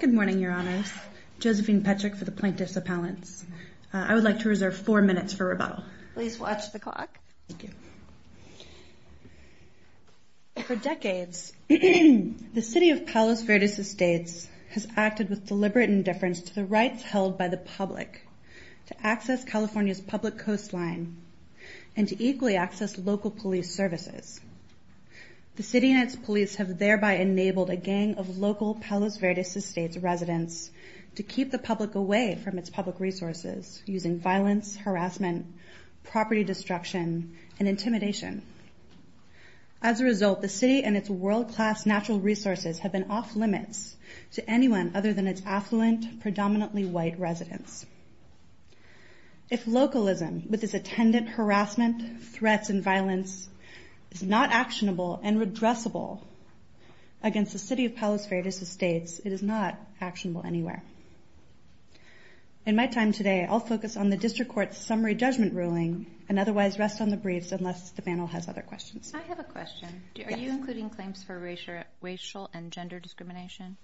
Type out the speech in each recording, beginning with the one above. Good morning, Your Honors. Josephine Petrick for the Plaintiffs Appellants. I would like to reserve four minutes for rebuttal. Please watch the clock. Thank you. For decades, the city of Palos Verdes Estates has acted with deliberate indifference to the rights held by the public to access California's public coastline and to equally access local police services. The city and its police have thereby enabled a gang of local Palos Verdes Estates residents to keep the public away from its public resources using violence, harassment, property destruction, and intimidation. As a result, the city and its world-class natural resources have been off-limits to anyone other than its affluent, predominantly white residents. If localism with its attendant harassment, threats, and violence is not actionable and redressable against the city of Palos Verdes Estates, it is not actionable anywhere. In my time today, I'll focus on the District Court's summary judgment ruling and otherwise rest on the briefs unless the panel has other questions. I have a question. Yes. Are you including claims for racial and gender discrimination?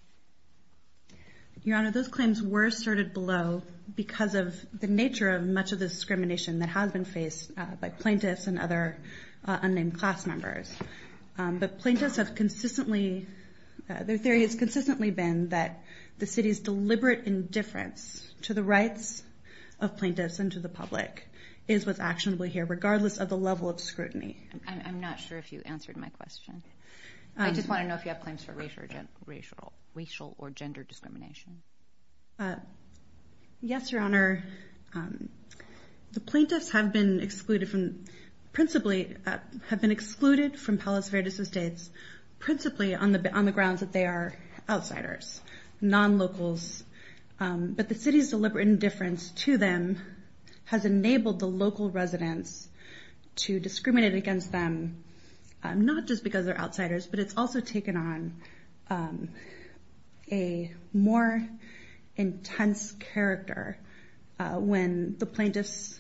Your Honor, those claims were asserted below because of the nature of much of the discrimination that has been faced by plaintiffs and other unnamed class members. But plaintiffs have consistently – their theory has consistently been that the city's deliberate indifference to the rights of plaintiffs and to the public is what's actionable here regardless of the level of scrutiny. I'm not sure if you answered my question. I just want to know if you have claims for racial or gender discrimination. Yes, Your Honor. The plaintiffs have been excluded from – principally have been excluded from Palos Verdes Estates principally on the grounds that they are outsiders, non-locals. But the city's deliberate indifference to them has enabled the local residents to discriminate against them not just because they're outsiders, but it's also taken on a more intense character when the plaintiffs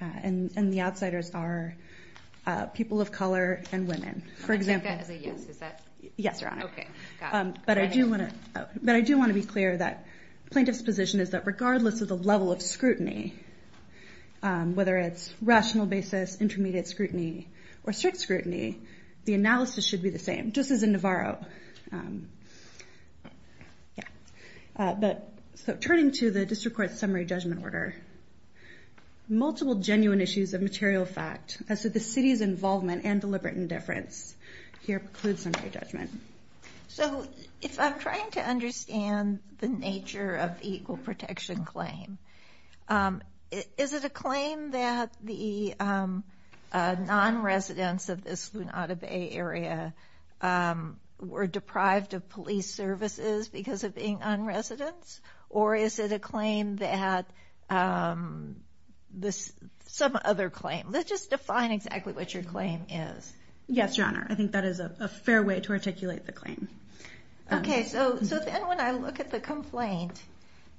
and the outsiders are people of color and women. I take that as a yes. Is that – Yes, Your Honor. Okay. Got it. But I do want to be clear that plaintiffs' position is that regardless of the level of scrutiny, whether it's rational basis, intermediate scrutiny, or strict scrutiny, the analysis should be the same just as in Navarro. So turning to the District Court's summary judgment order, multiple genuine issues of material fact as to the city's involvement and deliberate indifference here preclude summary judgment. So if I'm trying to understand the nature of the equal protection claim, is it a claim that the non-residents of this Lunada Bay area were deprived of police services because of being non-residents? Or is it a claim that this – some other claim? Just define exactly what your claim is. Yes, Your Honor. I think that is a fair way to articulate the claim. Okay. So then when I look at the complaint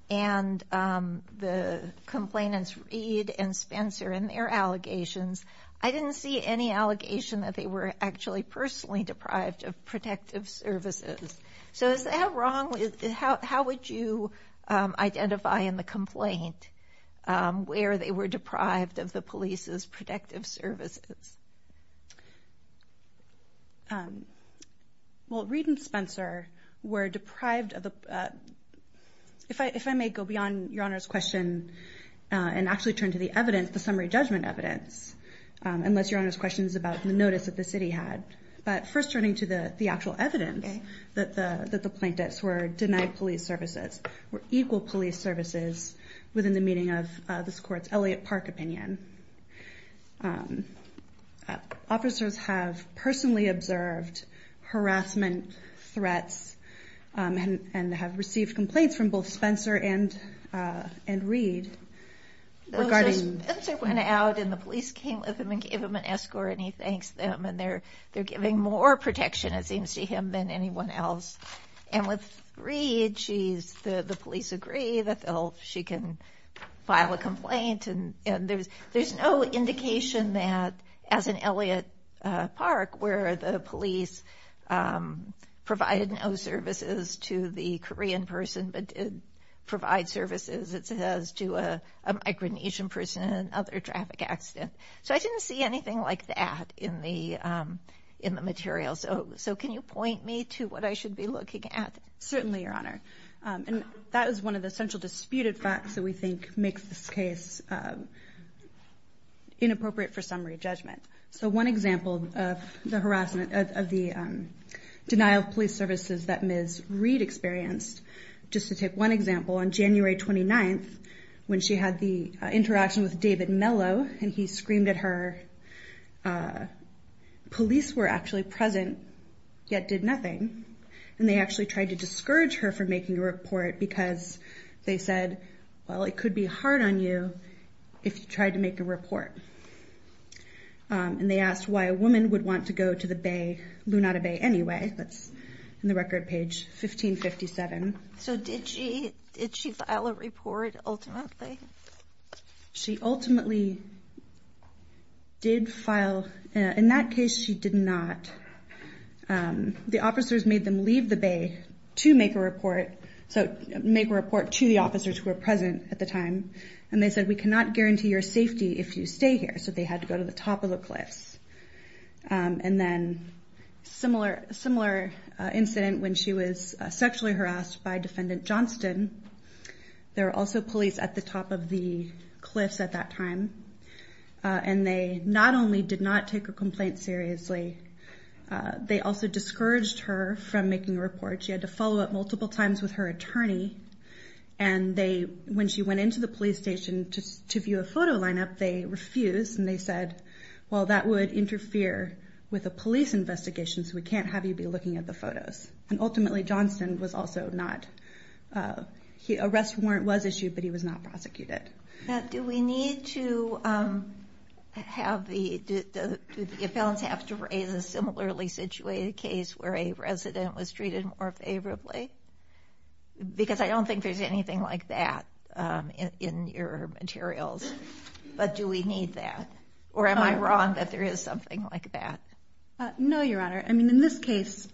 and the complainants, Reed and Spencer, and their allegations, I didn't see any allegation that they were actually personally deprived of protective services. So is that wrong? How would you identify in the complaint where they were deprived of the police's protective services? Well, Reed and Spencer were deprived of the – if I may go beyond Your Honor's question and actually turn to the evidence, the summary judgment evidence, unless Your Honor's question is about the notice that the city had. But first turning to the actual evidence that the plaintiffs were denied police services, were equal police services within the meaning of this Court's Elliott Park opinion. Officers have personally observed harassment threats and have received complaints from both Spencer and Reed regarding – So Spencer went out and the police came with him and gave him an escort and he thanks them and they're giving more protection it seems to him than anyone else. And with Reed, the police agree that she can file a complaint. And there's no indication that, as in Elliott Park, where the police provided no services to the Korean person but did provide services as to a Micronesian person in another traffic accident. So I didn't see anything like that in the material. So can you point me to what I should be looking at? Certainly, Your Honor. And that is one of the central disputed facts that we think makes this case inappropriate for summary judgment. So one example of the denial of police services that Ms. Reed experienced, just to take one example, on January 29th, when she had the interaction with David Mello and he screamed at her, police were actually present yet did nothing. And they actually tried to discourage her from making a report because they said, well, it could be hard on you if you tried to make a report. And they asked why a woman would want to go to the bay, Lunata Bay anyway. That's in the record page 1557. So did she file a report ultimately? She ultimately did file. In that case, she did not. The officers made them leave the bay to make a report, so make a report to the officers who were present at the time. And they said, we cannot guarantee your safety if you stay here. So they had to go to the top of the cliffs. And then a similar incident when she was sexually harassed by Defendant Johnston. There were also police at the top of the cliffs at that time. And they not only did not take her complaint seriously, they also discouraged her from making a report. She had to follow up multiple times with her attorney. And when she went into the police station to view a photo lineup, they refused. And they said, well, that would interfere with a police investigation, so we can't have you be looking at the photos. And ultimately, Johnston was also not – a rest warrant was issued, but he was not prosecuted. Now, do we need to have the – do the appellants have to raise a similarly situated case where a resident was treated more favorably? Because I don't think there's anything like that in your materials. But do we need that? Or am I wrong that there is something like that? No, Your Honor. I mean, in this case,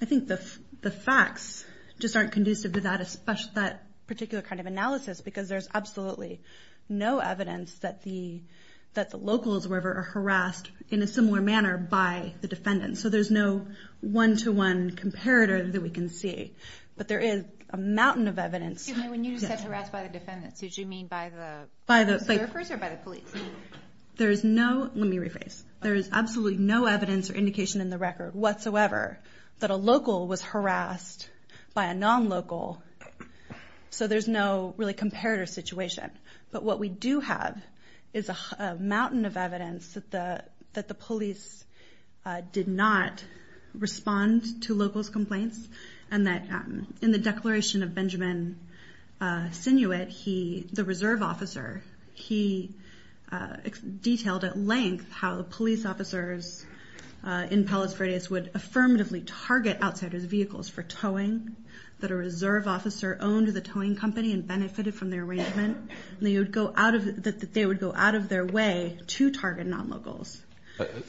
I think the facts just aren't conducive to that particular kind of analysis because there's absolutely no evidence that the locals were ever harassed in a similar manner by the defendants. So there's no one-to-one comparator that we can see. But there is a mountain of evidence. Excuse me, when you said harassed by the defendants, did you mean by the – By the observers or by the police? There is no – let me rephrase. There is absolutely no evidence or indication in the record whatsoever that a local was harassed by a non-local, so there's no really comparator situation. But what we do have is a mountain of evidence that the police did not respond to locals' complaints and that in the declaration of Benjamin Sinuit, the reserve officer, he detailed at length how the police officers in Palos Verdes would affirmatively target outsiders' vehicles for towing, that a reserve officer owned the towing company and benefited from the arrangement, and that they would go out of their way to target non-locals.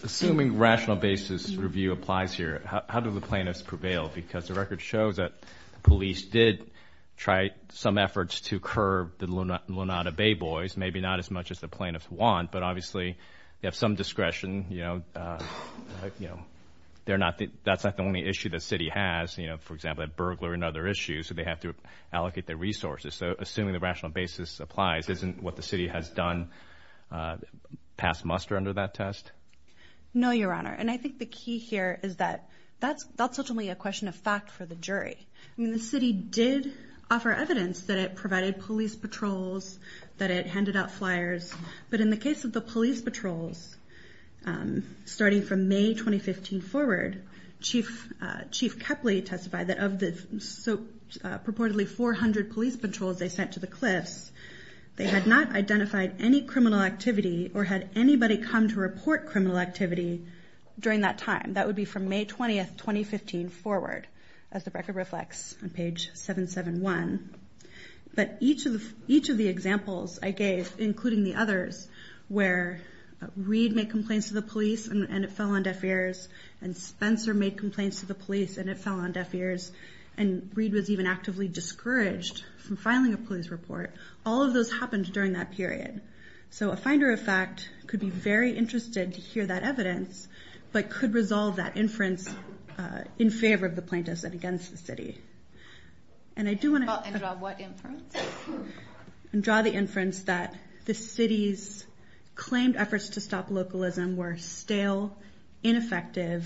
Assuming rational basis review applies here, how do the plaintiffs prevail? Because the record shows that the police did try some efforts to curb the Lunada Bay Boys, maybe not as much as the plaintiffs want, but obviously they have some discretion. That's not the only issue the city has. For example, they have a burglar and other issues, so they have to allocate their resources. So assuming the rational basis applies, isn't what the city has done past muster under that test? No, Your Honor. And I think the key here is that that's ultimately a question of fact for the jury. The city did offer evidence that it provided police patrols, that it handed out flyers, but in the case of the police patrols, starting from May 2015 forward, Chief Kepley testified that of the so purportedly 400 police patrols they sent to the cliffs, they had not identified any criminal activity or had anybody come to report criminal activity during that time. That would be from May 20, 2015 forward, as the record reflects on page 771. But each of the examples I gave, including the others, where Reed made complaints to the police and it fell on deaf ears, and Spencer made complaints to the police and it fell on deaf ears, and Reed was even actively discouraged from filing a police report, all of those happened during that period. So a finder of fact could be very interested to hear that evidence, but could resolve that inference in favor of the plaintiffs and against the city. And I do want to draw the inference that the city's claimed efforts to stop localism were stale, ineffective,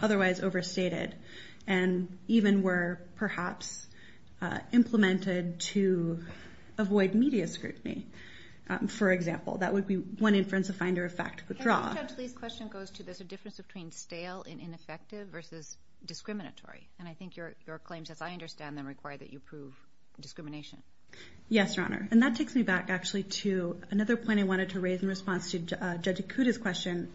otherwise overstated, and even were perhaps implemented to avoid media scrutiny, for example. That would be one inference a finder of fact could draw. Judge Lee's question goes to there's a difference between stale and ineffective versus discriminatory. And I think your claims, as I understand them, require that you prove discrimination. Yes, Your Honor. And that takes me back actually to another point I wanted to raise in response to Judge Ikuda's question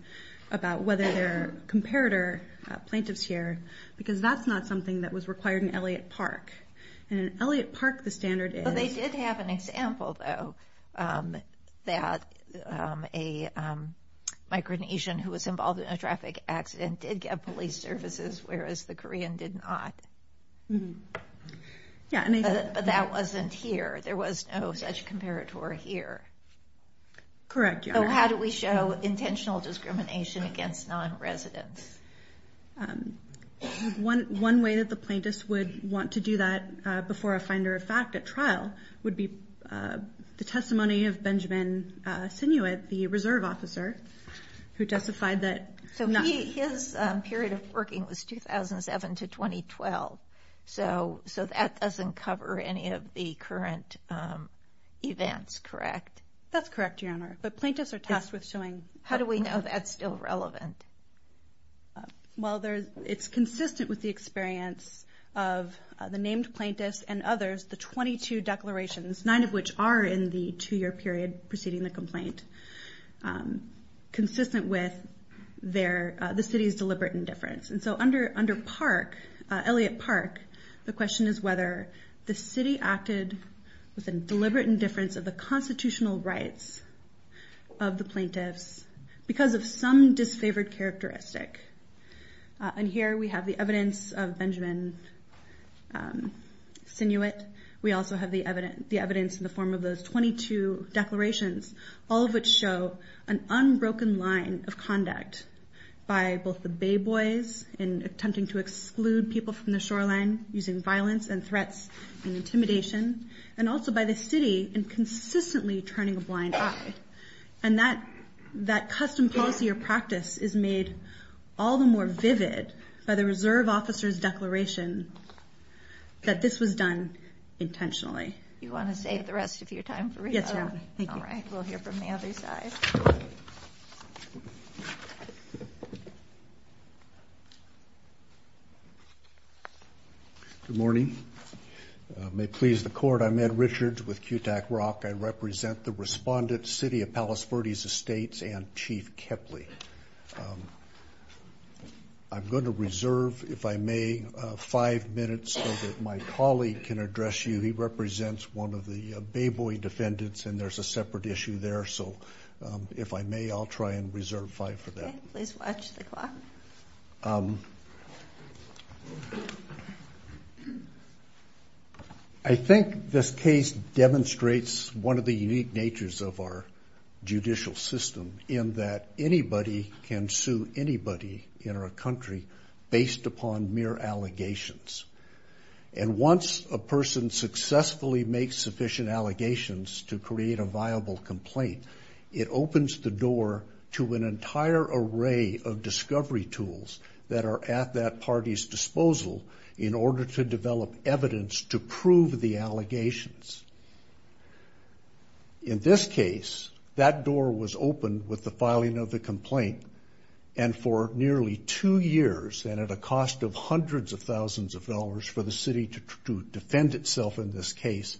about whether there are comparator plaintiffs here, because that's not something that was required in Elliott Park. In Elliott Park, the standard is... They did have an example, though, that a Micronesian who was involved in a traffic accident did get police services, whereas the Korean did not. But that wasn't here. There was no such comparator here. Correct, Your Honor. So how do we show intentional discrimination against non-residents? One way that the plaintiffs would want to do that before a finder of fact at trial would be the testimony of Benjamin Sinuit, the reserve officer, who testified that... So his period of working was 2007 to 2012, so that doesn't cover any of the current events, correct? That's correct, Your Honor. But plaintiffs are tasked with showing... How do we know that's still relevant? Well, it's consistent with the experience of the named plaintiffs and others, the 22 declarations, nine of which are in the two-year period preceding the complaint, consistent with the city's deliberate indifference. And so under Park, Elliott Park, the question is whether the city acted with a deliberate indifference of the constitutional rights of the plaintiffs because of some disfavored characteristic. And here we have the evidence of Benjamin Sinuit. We also have the evidence in the form of those 22 declarations, all of which show an unbroken line of conduct by both the Bay Boys in attempting to exclude people from the shoreline using violence and threats and intimidation, and also by the city in consistently turning a blind eye. And that custom policy or practice is made all the more vivid by the reserve officer's declaration that this was done intentionally. You want to save the rest of your time for me? Yes, Your Honor. All right, we'll hear from the other side. Good morning. May it please the Court, I'm Ed Richards with CUTAC-ROC. I represent the respondent city of Palos Verdes Estates and Chief Kepley. I'm going to reserve, if I may, five minutes so that my colleague can address you. He represents one of the Bay Boy defendants, and there's a separate issue there. So if I may, I'll try and reserve five for that. Okay, please watch the clock. I think this case demonstrates one of the unique natures of our judicial system in that anybody can sue anybody in our country based upon mere allegations. And once a person successfully makes sufficient allegations to create a viable complaint, it opens the door to an entire array of discovery tools that are at that party's disposal in order to develop evidence to prove the allegations. In this case, that door was opened with the filing of the complaint, and for nearly two years and at a cost of hundreds of thousands of dollars for the city to defend itself in this case,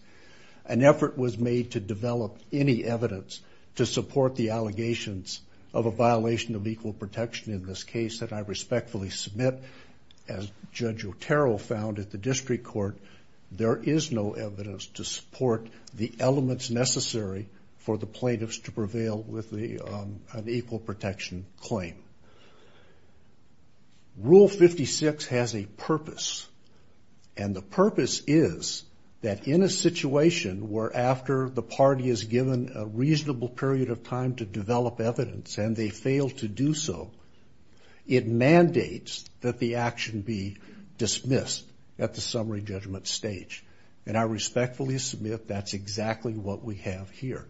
an effort was made to develop any evidence to support the allegations of a violation of equal protection in this case that I respectfully submit. As Judge Otero found at the district court, there is no evidence to support the elements necessary for the plaintiffs to prevail with an equal protection claim. Rule 56 has a purpose, and the purpose is that in a situation where after the party is given a reasonable period of time to develop evidence and they fail to do so, it mandates that the action be dismissed at the summary judgment stage. And I respectfully submit that's exactly what we have here.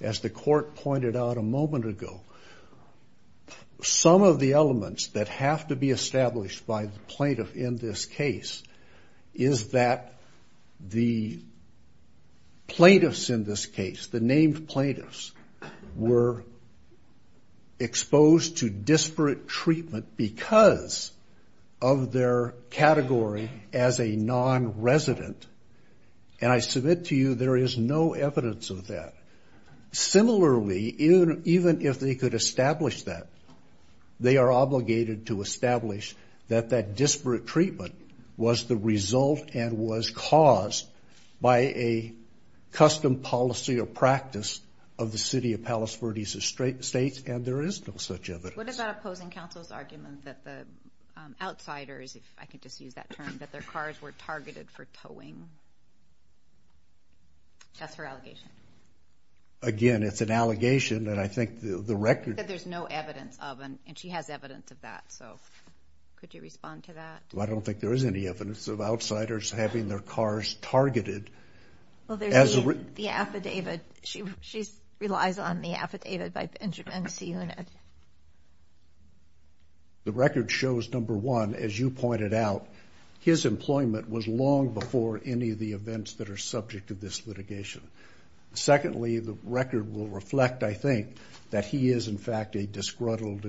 As the court pointed out a moment ago, some of the elements that have to be established by the plaintiff in this case is that the plaintiffs in this case, the named plaintiffs, were exposed to disparate treatment because of their category as a nonresident, and I submit to you there is no evidence of that. Similarly, even if they could establish that, they are obligated to establish that that disparate treatment was the result and was caused by a custom policy or practice of the city of Palos Verdes Estates, and there is no such evidence. What about opposing counsel's argument that the outsiders, if I could just use that term, that their cars were targeted for towing? That's her allegation. Again, it's an allegation, and I think the record... That there's no evidence of, and she has evidence of that, so could you respond to that? Well, I don't think there is any evidence of outsiders having their cars targeted. Well, there's the affidavit. She relies on the affidavit by the insurance unit. The record shows, number one, as you pointed out, his employment was long before any of the events that are subject to this litigation. Secondly, the record will reflect, I think, that he is in fact a disgruntled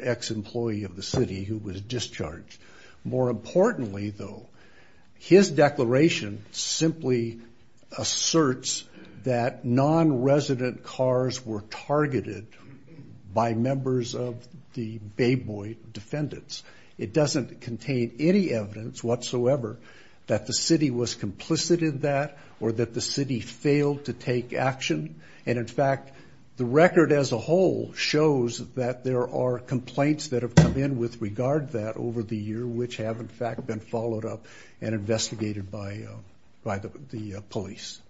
ex-employee of the city who was discharged. More importantly, though, his declaration simply asserts that nonresident cars were targeted by members of the Bay Boy Defendants. It doesn't contain any evidence whatsoever that the city was complicit in that or that the city failed to take action. And in fact, the record as a whole shows that there are complaints that have come in with regard to that over the year, which have in fact been followed up and investigated by the police.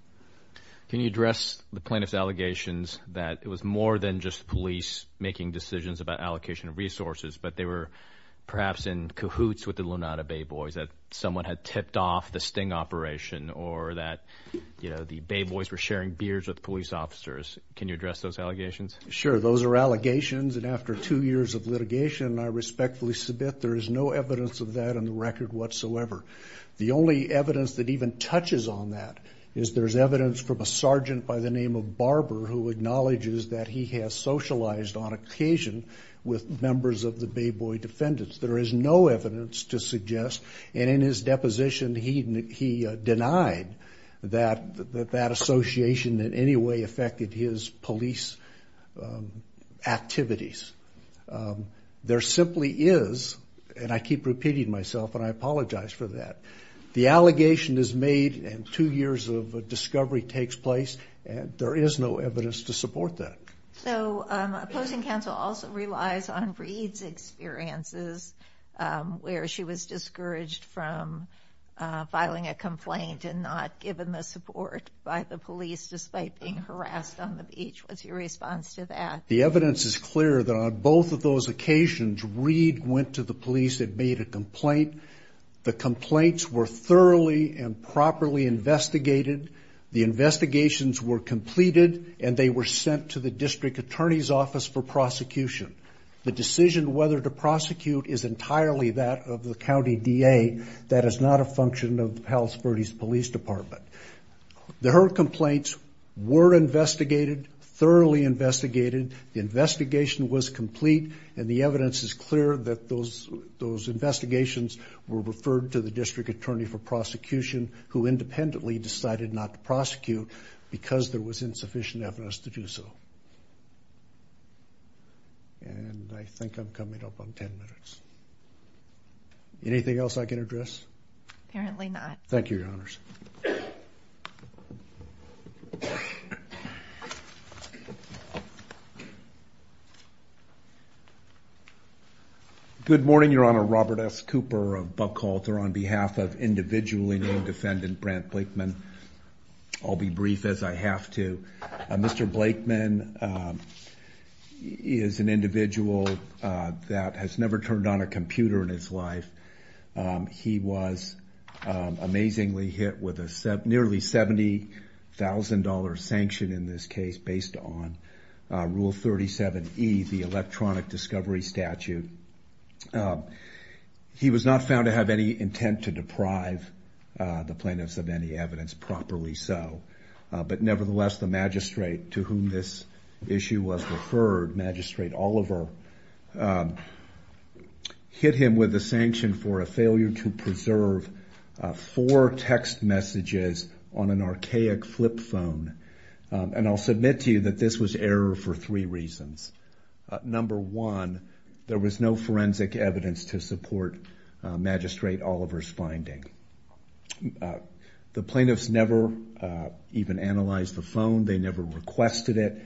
Can you address the plaintiff's allegations that it was more than just police making decisions about allocation of resources, but they were perhaps in cahoots with the Lunada Bay Boys, that someone had tipped off the sting operation, or that the Bay Boys were sharing beers with police officers? Can you address those allegations? Sure. Those are allegations, and after two years of litigation, I respectfully submit, there is no evidence of that on the record whatsoever. The only evidence that even touches on that is there's evidence from a sergeant by the name of Barber who acknowledges that he has socialized on occasion with members of the Bay Boy Defendants. There is no evidence to suggest, and in his deposition, he denied that that association in any way affected his police activities. There simply is, and I keep repeating myself, and I apologize for that, the allegation is made and two years of discovery takes place, and there is no evidence to support that. So opposing counsel also relies on Reed's experiences, where she was discouraged from filing a complaint and not given the support by the police, despite being harassed on the beach. What's your response to that? The evidence is clear that on both of those occasions, Reed went to the police and made a complaint. The complaints were thoroughly and properly investigated. The investigations were completed, and they were sent to the district attorney's office for prosecution. The decision whether to prosecute is entirely that of the county DA. That is not a function of the Palos Verdes Police Department. Her complaints were investigated, thoroughly investigated. The investigation was complete, and the evidence is clear that those investigations were referred to the district attorney for prosecution, who independently decided not to prosecute because there was insufficient evidence to do so. And I think I'm coming up on ten minutes. Anything else I can address? Apparently not. Thank you, Your Honors. Good morning, Your Honor. Robert S. Cooper of Buckhalter. On behalf of individually named defendant, Brant Blakeman, I'll be brief as I have to. Mr. Blakeman is an individual that has never turned on a computer in his life. He was amazingly hit with a nearly $70,000 sanction in this case based on Rule 37E, the electronic discovery statute. He was not found to have any intent to deprive the plaintiffs of any evidence, properly so. But nevertheless, the magistrate to whom this issue was referred, Magistrate Oliver, hit him with a sanction for a failure to preserve four text messages on an archaic flip phone. And I'll submit to you that this was error for three reasons. Number one, there was no forensic evidence to support Magistrate Oliver's finding. The plaintiffs never even analyzed the phone. They never requested it.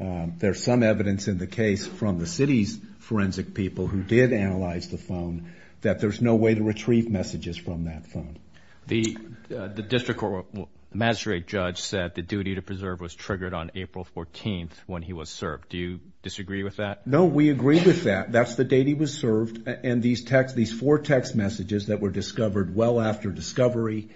There's some evidence in the case from the city's forensic people who did analyze the phone that there's no way to retrieve messages from that phone. The district magistrate judge said the duty to preserve was triggered on April 14th when he was served. Do you disagree with that? No, we agree with that. That's the date he was served. And these four text messages that were discovered well after discovery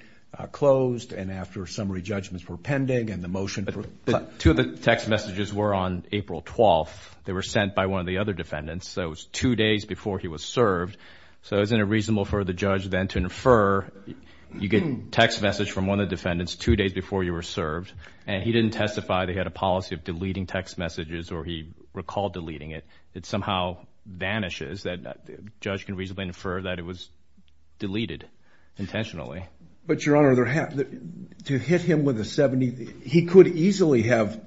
closed and after summary judgments were pending and the motion for- But two of the text messages were on April 12th. They were sent by one of the other defendants, so it was two days before he was served. So isn't it reasonable for the judge then to infer you get a text message from one of the defendants two days before you were served, and he didn't testify. They had a policy of deleting text messages, or he recalled deleting it. It somehow vanishes. The judge can reasonably infer that it was deleted intentionally. But, Your Honor, to hit him with a $70,000- He could easily have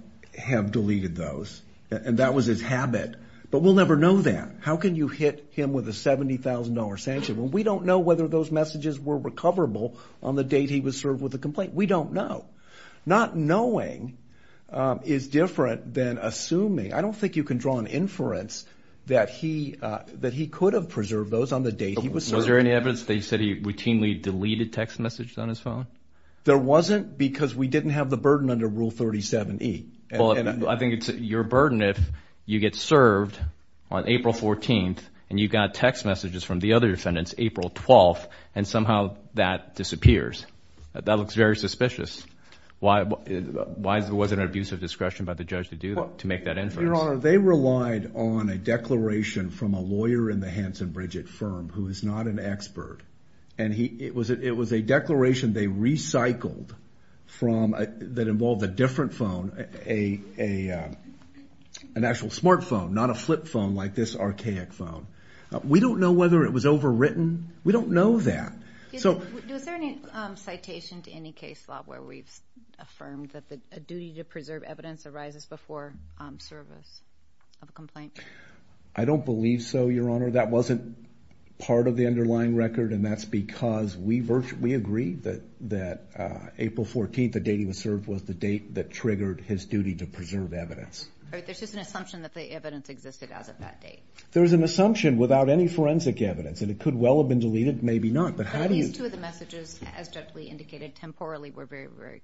deleted those, and that was his habit. But we'll never know that. How can you hit him with a $70,000 sanction when we don't know whether those messages were recoverable on the date he was served with the complaint? We don't know. Not knowing is different than assuming. I don't think you can draw an inference that he could have preserved those on the date he was served. Was there any evidence that he said he routinely deleted text messages on his phone? There wasn't because we didn't have the burden under Rule 37E. Well, I think it's your burden if you get served on April 14th and you got text messages from the other defendants April 12th and somehow that disappears. That looks very suspicious. Why wasn't there an abuse of discretion by the judge to make that inference? Your Honor, they relied on a declaration from a lawyer in the Hanson Bridget firm who is not an expert. It was a declaration they recycled that involved a different phone, an actual smartphone, not a flip phone like this archaic phone. We don't know whether it was overwritten. We don't know that. Is there any citation to any case law where we've affirmed that a duty to preserve evidence arises before service of a complaint? I don't believe so, Your Honor. That wasn't part of the underlying record, and that's because we agree that April 14th, the date he was served, was the date that triggered his duty to preserve evidence. There's just an assumption that the evidence existed as of that date. There's an assumption without any forensic evidence, and it could well have been deleted, maybe not, but how do you? These two of the messages, as Judge Lee indicated, temporally were very, very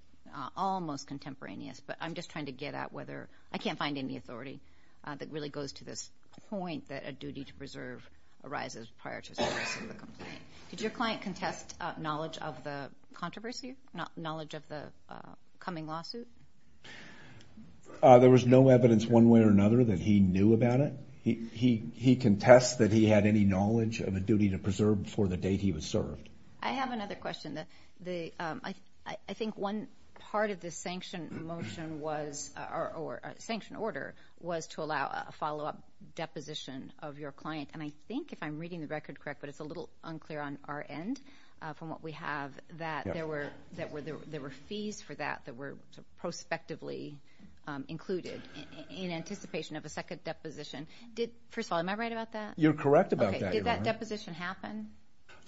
almost contemporaneous, but I'm just trying to get at whether I can't find any authority that really goes to this point that a duty to preserve arises prior to service of a complaint. Did your client contest knowledge of the controversy, knowledge of the coming lawsuit? There was no evidence one way or another that he knew about it. He contested that he had any knowledge of a duty to preserve before the date he was served. I have another question. I think one part of the sanction motion was, or sanction order, was to allow a follow-up deposition of your client, and I think if I'm reading the record correct, but it's a little unclear on our end, from what we have, that there were fees for that that were prospectively included in anticipation of a second deposition. First of all, am I right about that? You're correct about that, Your Honor. Did that deposition happen?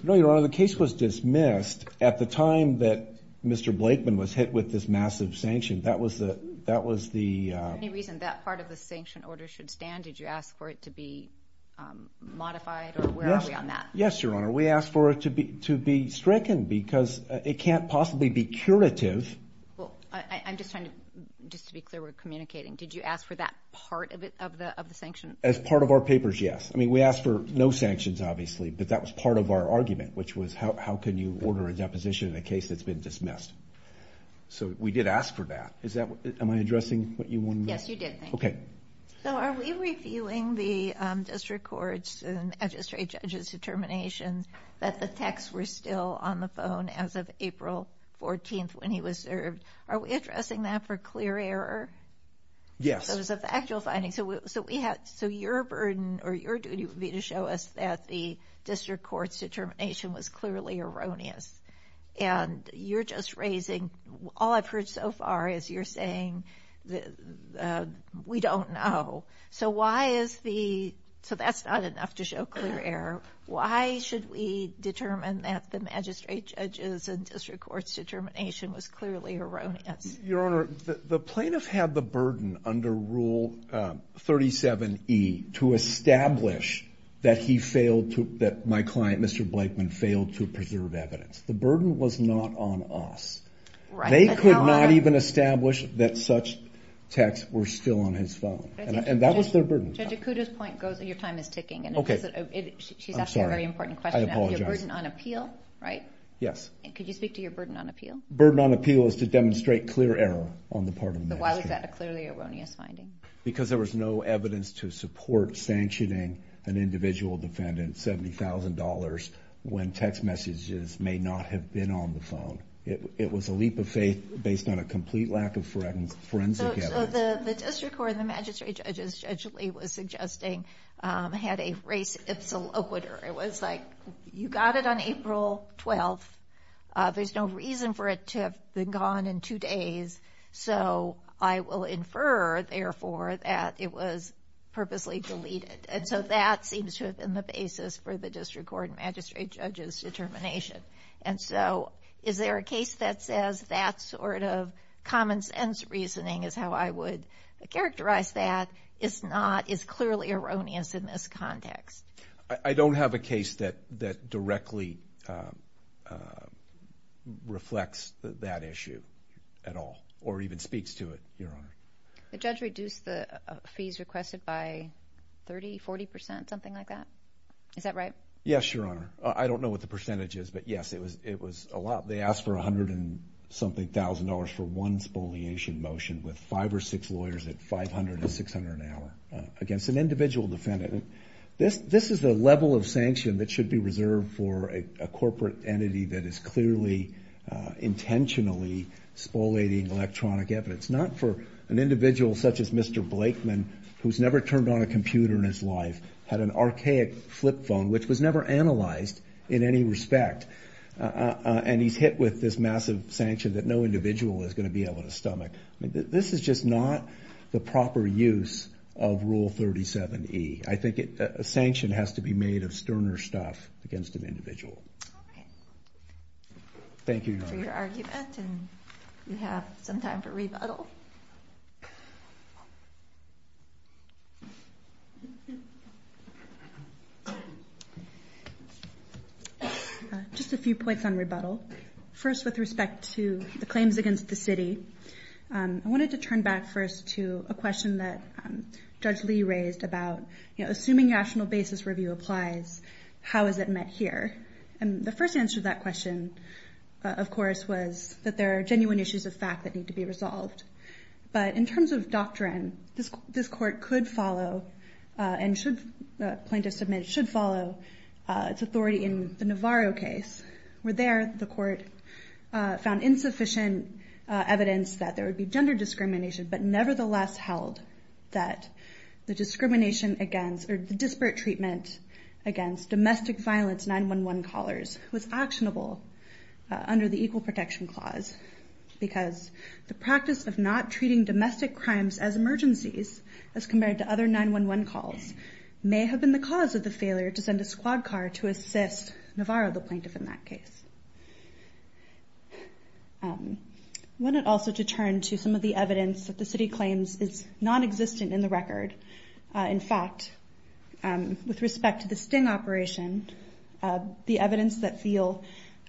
No, Your Honor. The case was dismissed at the time that Mr. Blakeman was hit with this massive sanction. That was the— Is there any reason that part of the sanction order should stand? Did you ask for it to be modified, or where are we on that? Yes, Your Honor. We asked for it to be stricken because it can't possibly be curative. I'm just trying to be clear. We're communicating. Did you ask for that part of the sanction? As part of our papers, yes. I mean, we asked for no sanctions, obviously, but that was part of our argument, which was how can you order a deposition in a case that's been dismissed. So we did ask for that. Am I addressing what you wanted me to? Yes, you did, thank you. Okay. So are we reviewing the district court's and the magistrate judge's determination that the texts were still on the phone as of April 14th when he was served? Are we addressing that for clear error? Yes. So it was a factual finding. So your burden or your duty would be to show us that the district court's determination was clearly erroneous. And you're just raising—all I've heard so far is you're saying we don't know. So why is the—so that's not enough to show clear error. Why should we determine that the magistrate judge's and district court's determination was clearly erroneous? Your Honor, the plaintiff had the burden under Rule 37E to establish that he failed to— that my client, Mr. Blakeman, failed to preserve evidence. The burden was not on us. They could not even establish that such texts were still on his phone. And that was their burden. Judge Acuda's point goes—your time is ticking. Okay. She's asking a very important question. I apologize. Your burden on appeal, right? Yes. Could you speak to your burden on appeal? Burden on appeal is to demonstrate clear error on the part of the magistrate. So why was that a clearly erroneous finding? Because there was no evidence to support sanctioning an individual defendant $70,000 when text messages may not have been on the phone. It was a leap of faith based on a complete lack of forensic evidence. So the district court and the magistrate judges, Judge Lee was suggesting, had a race ipsa loquitur. It was like, you got it on April 12th. There's no reason for it to have been gone in two days, so I will infer, therefore, that it was purposely deleted. And so that seems to have been the basis for the district court and magistrate judges' determination. And so is there a case that says that sort of common sense reasoning is how I would characterize that is clearly erroneous in this context? I don't have a case that directly reflects that issue at all or even speaks to it, Your Honor. The judge reduced the fees requested by 30%, 40%, something like that? Is that right? Yes, Your Honor. I don't know what the percentage is, but, yes, it was a lot. They asked for $100,000 for one spoliation motion with five or six lawyers at $500 to $600 an hour against an individual defendant. This is a level of sanction that should be reserved for a corporate entity that is clearly intentionally spoliating electronic evidence, not for an individual such as Mr. Blakeman, who's never turned on a computer in his life, had an archaic flip phone, which was never analyzed in any respect, and he's hit with this massive sanction that no individual is going to be able to stomach. This is just not the proper use of Rule 37E. I think a sanction has to be made of sterner stuff against an individual. All right. Thank you, Your Honor. Thank you for your argument, and you have some time for rebuttal. Just a few points on rebuttal. First, with respect to the claims against the city, I wanted to turn back first to a question that Judge Lee raised about, you know, assuming rational basis review applies, how is it met here? And the first answer to that question, of course, was that there are genuine issues of fact that need to be resolved. But in terms of doctrine, this Court could follow and plaintiffs submit should follow its authority in the Navarro case, where there the Court found insufficient evidence that there would be gender discrimination but nevertheless held that the discrimination against or the disparate treatment against domestic violence 9-1-1 callers was actionable under the Equal Protection Clause because the practice of not treating domestic crimes as emergencies as compared to other 9-1-1 calls may have been the cause of the failure to send a squad car to assist Navarro, the plaintiff in that case. I wanted also to turn to some of the evidence that the city claims is nonexistent in the record. In fact, with respect to the sting operation, the evidence that Thiel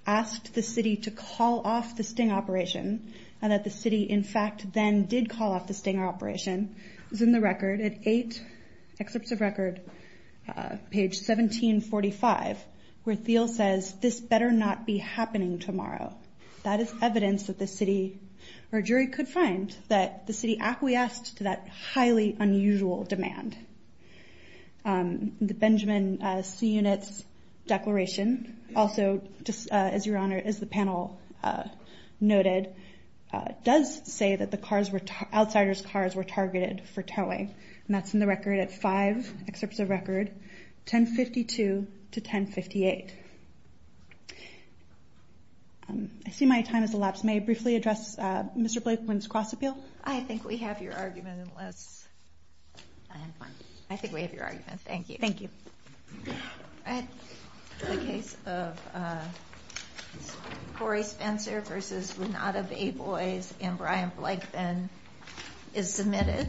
asked the city to call off the sting operation and that the city, in fact, then did call off the sting operation is in the record at 8 excerpts of record, page 1745, where Thiel says, this better not be happening tomorrow. That is evidence that the city or jury could find that the city acquiesced to that highly unusual demand. The Benjamin C. Units Declaration also, as your Honor, as the panel noted, does say that the outsider's cars were targeted for towing, and that's in the record at 5 excerpts of record, 1052 to 1058. I see my time has elapsed. May I briefly address Mr. Blakeman's cross-appeal? I think we have your argument, unless... I think we have your argument. Thank you. Thank you. The case of Corey Spencer v. Renata Bayboys and Brian Blakeman is submitted.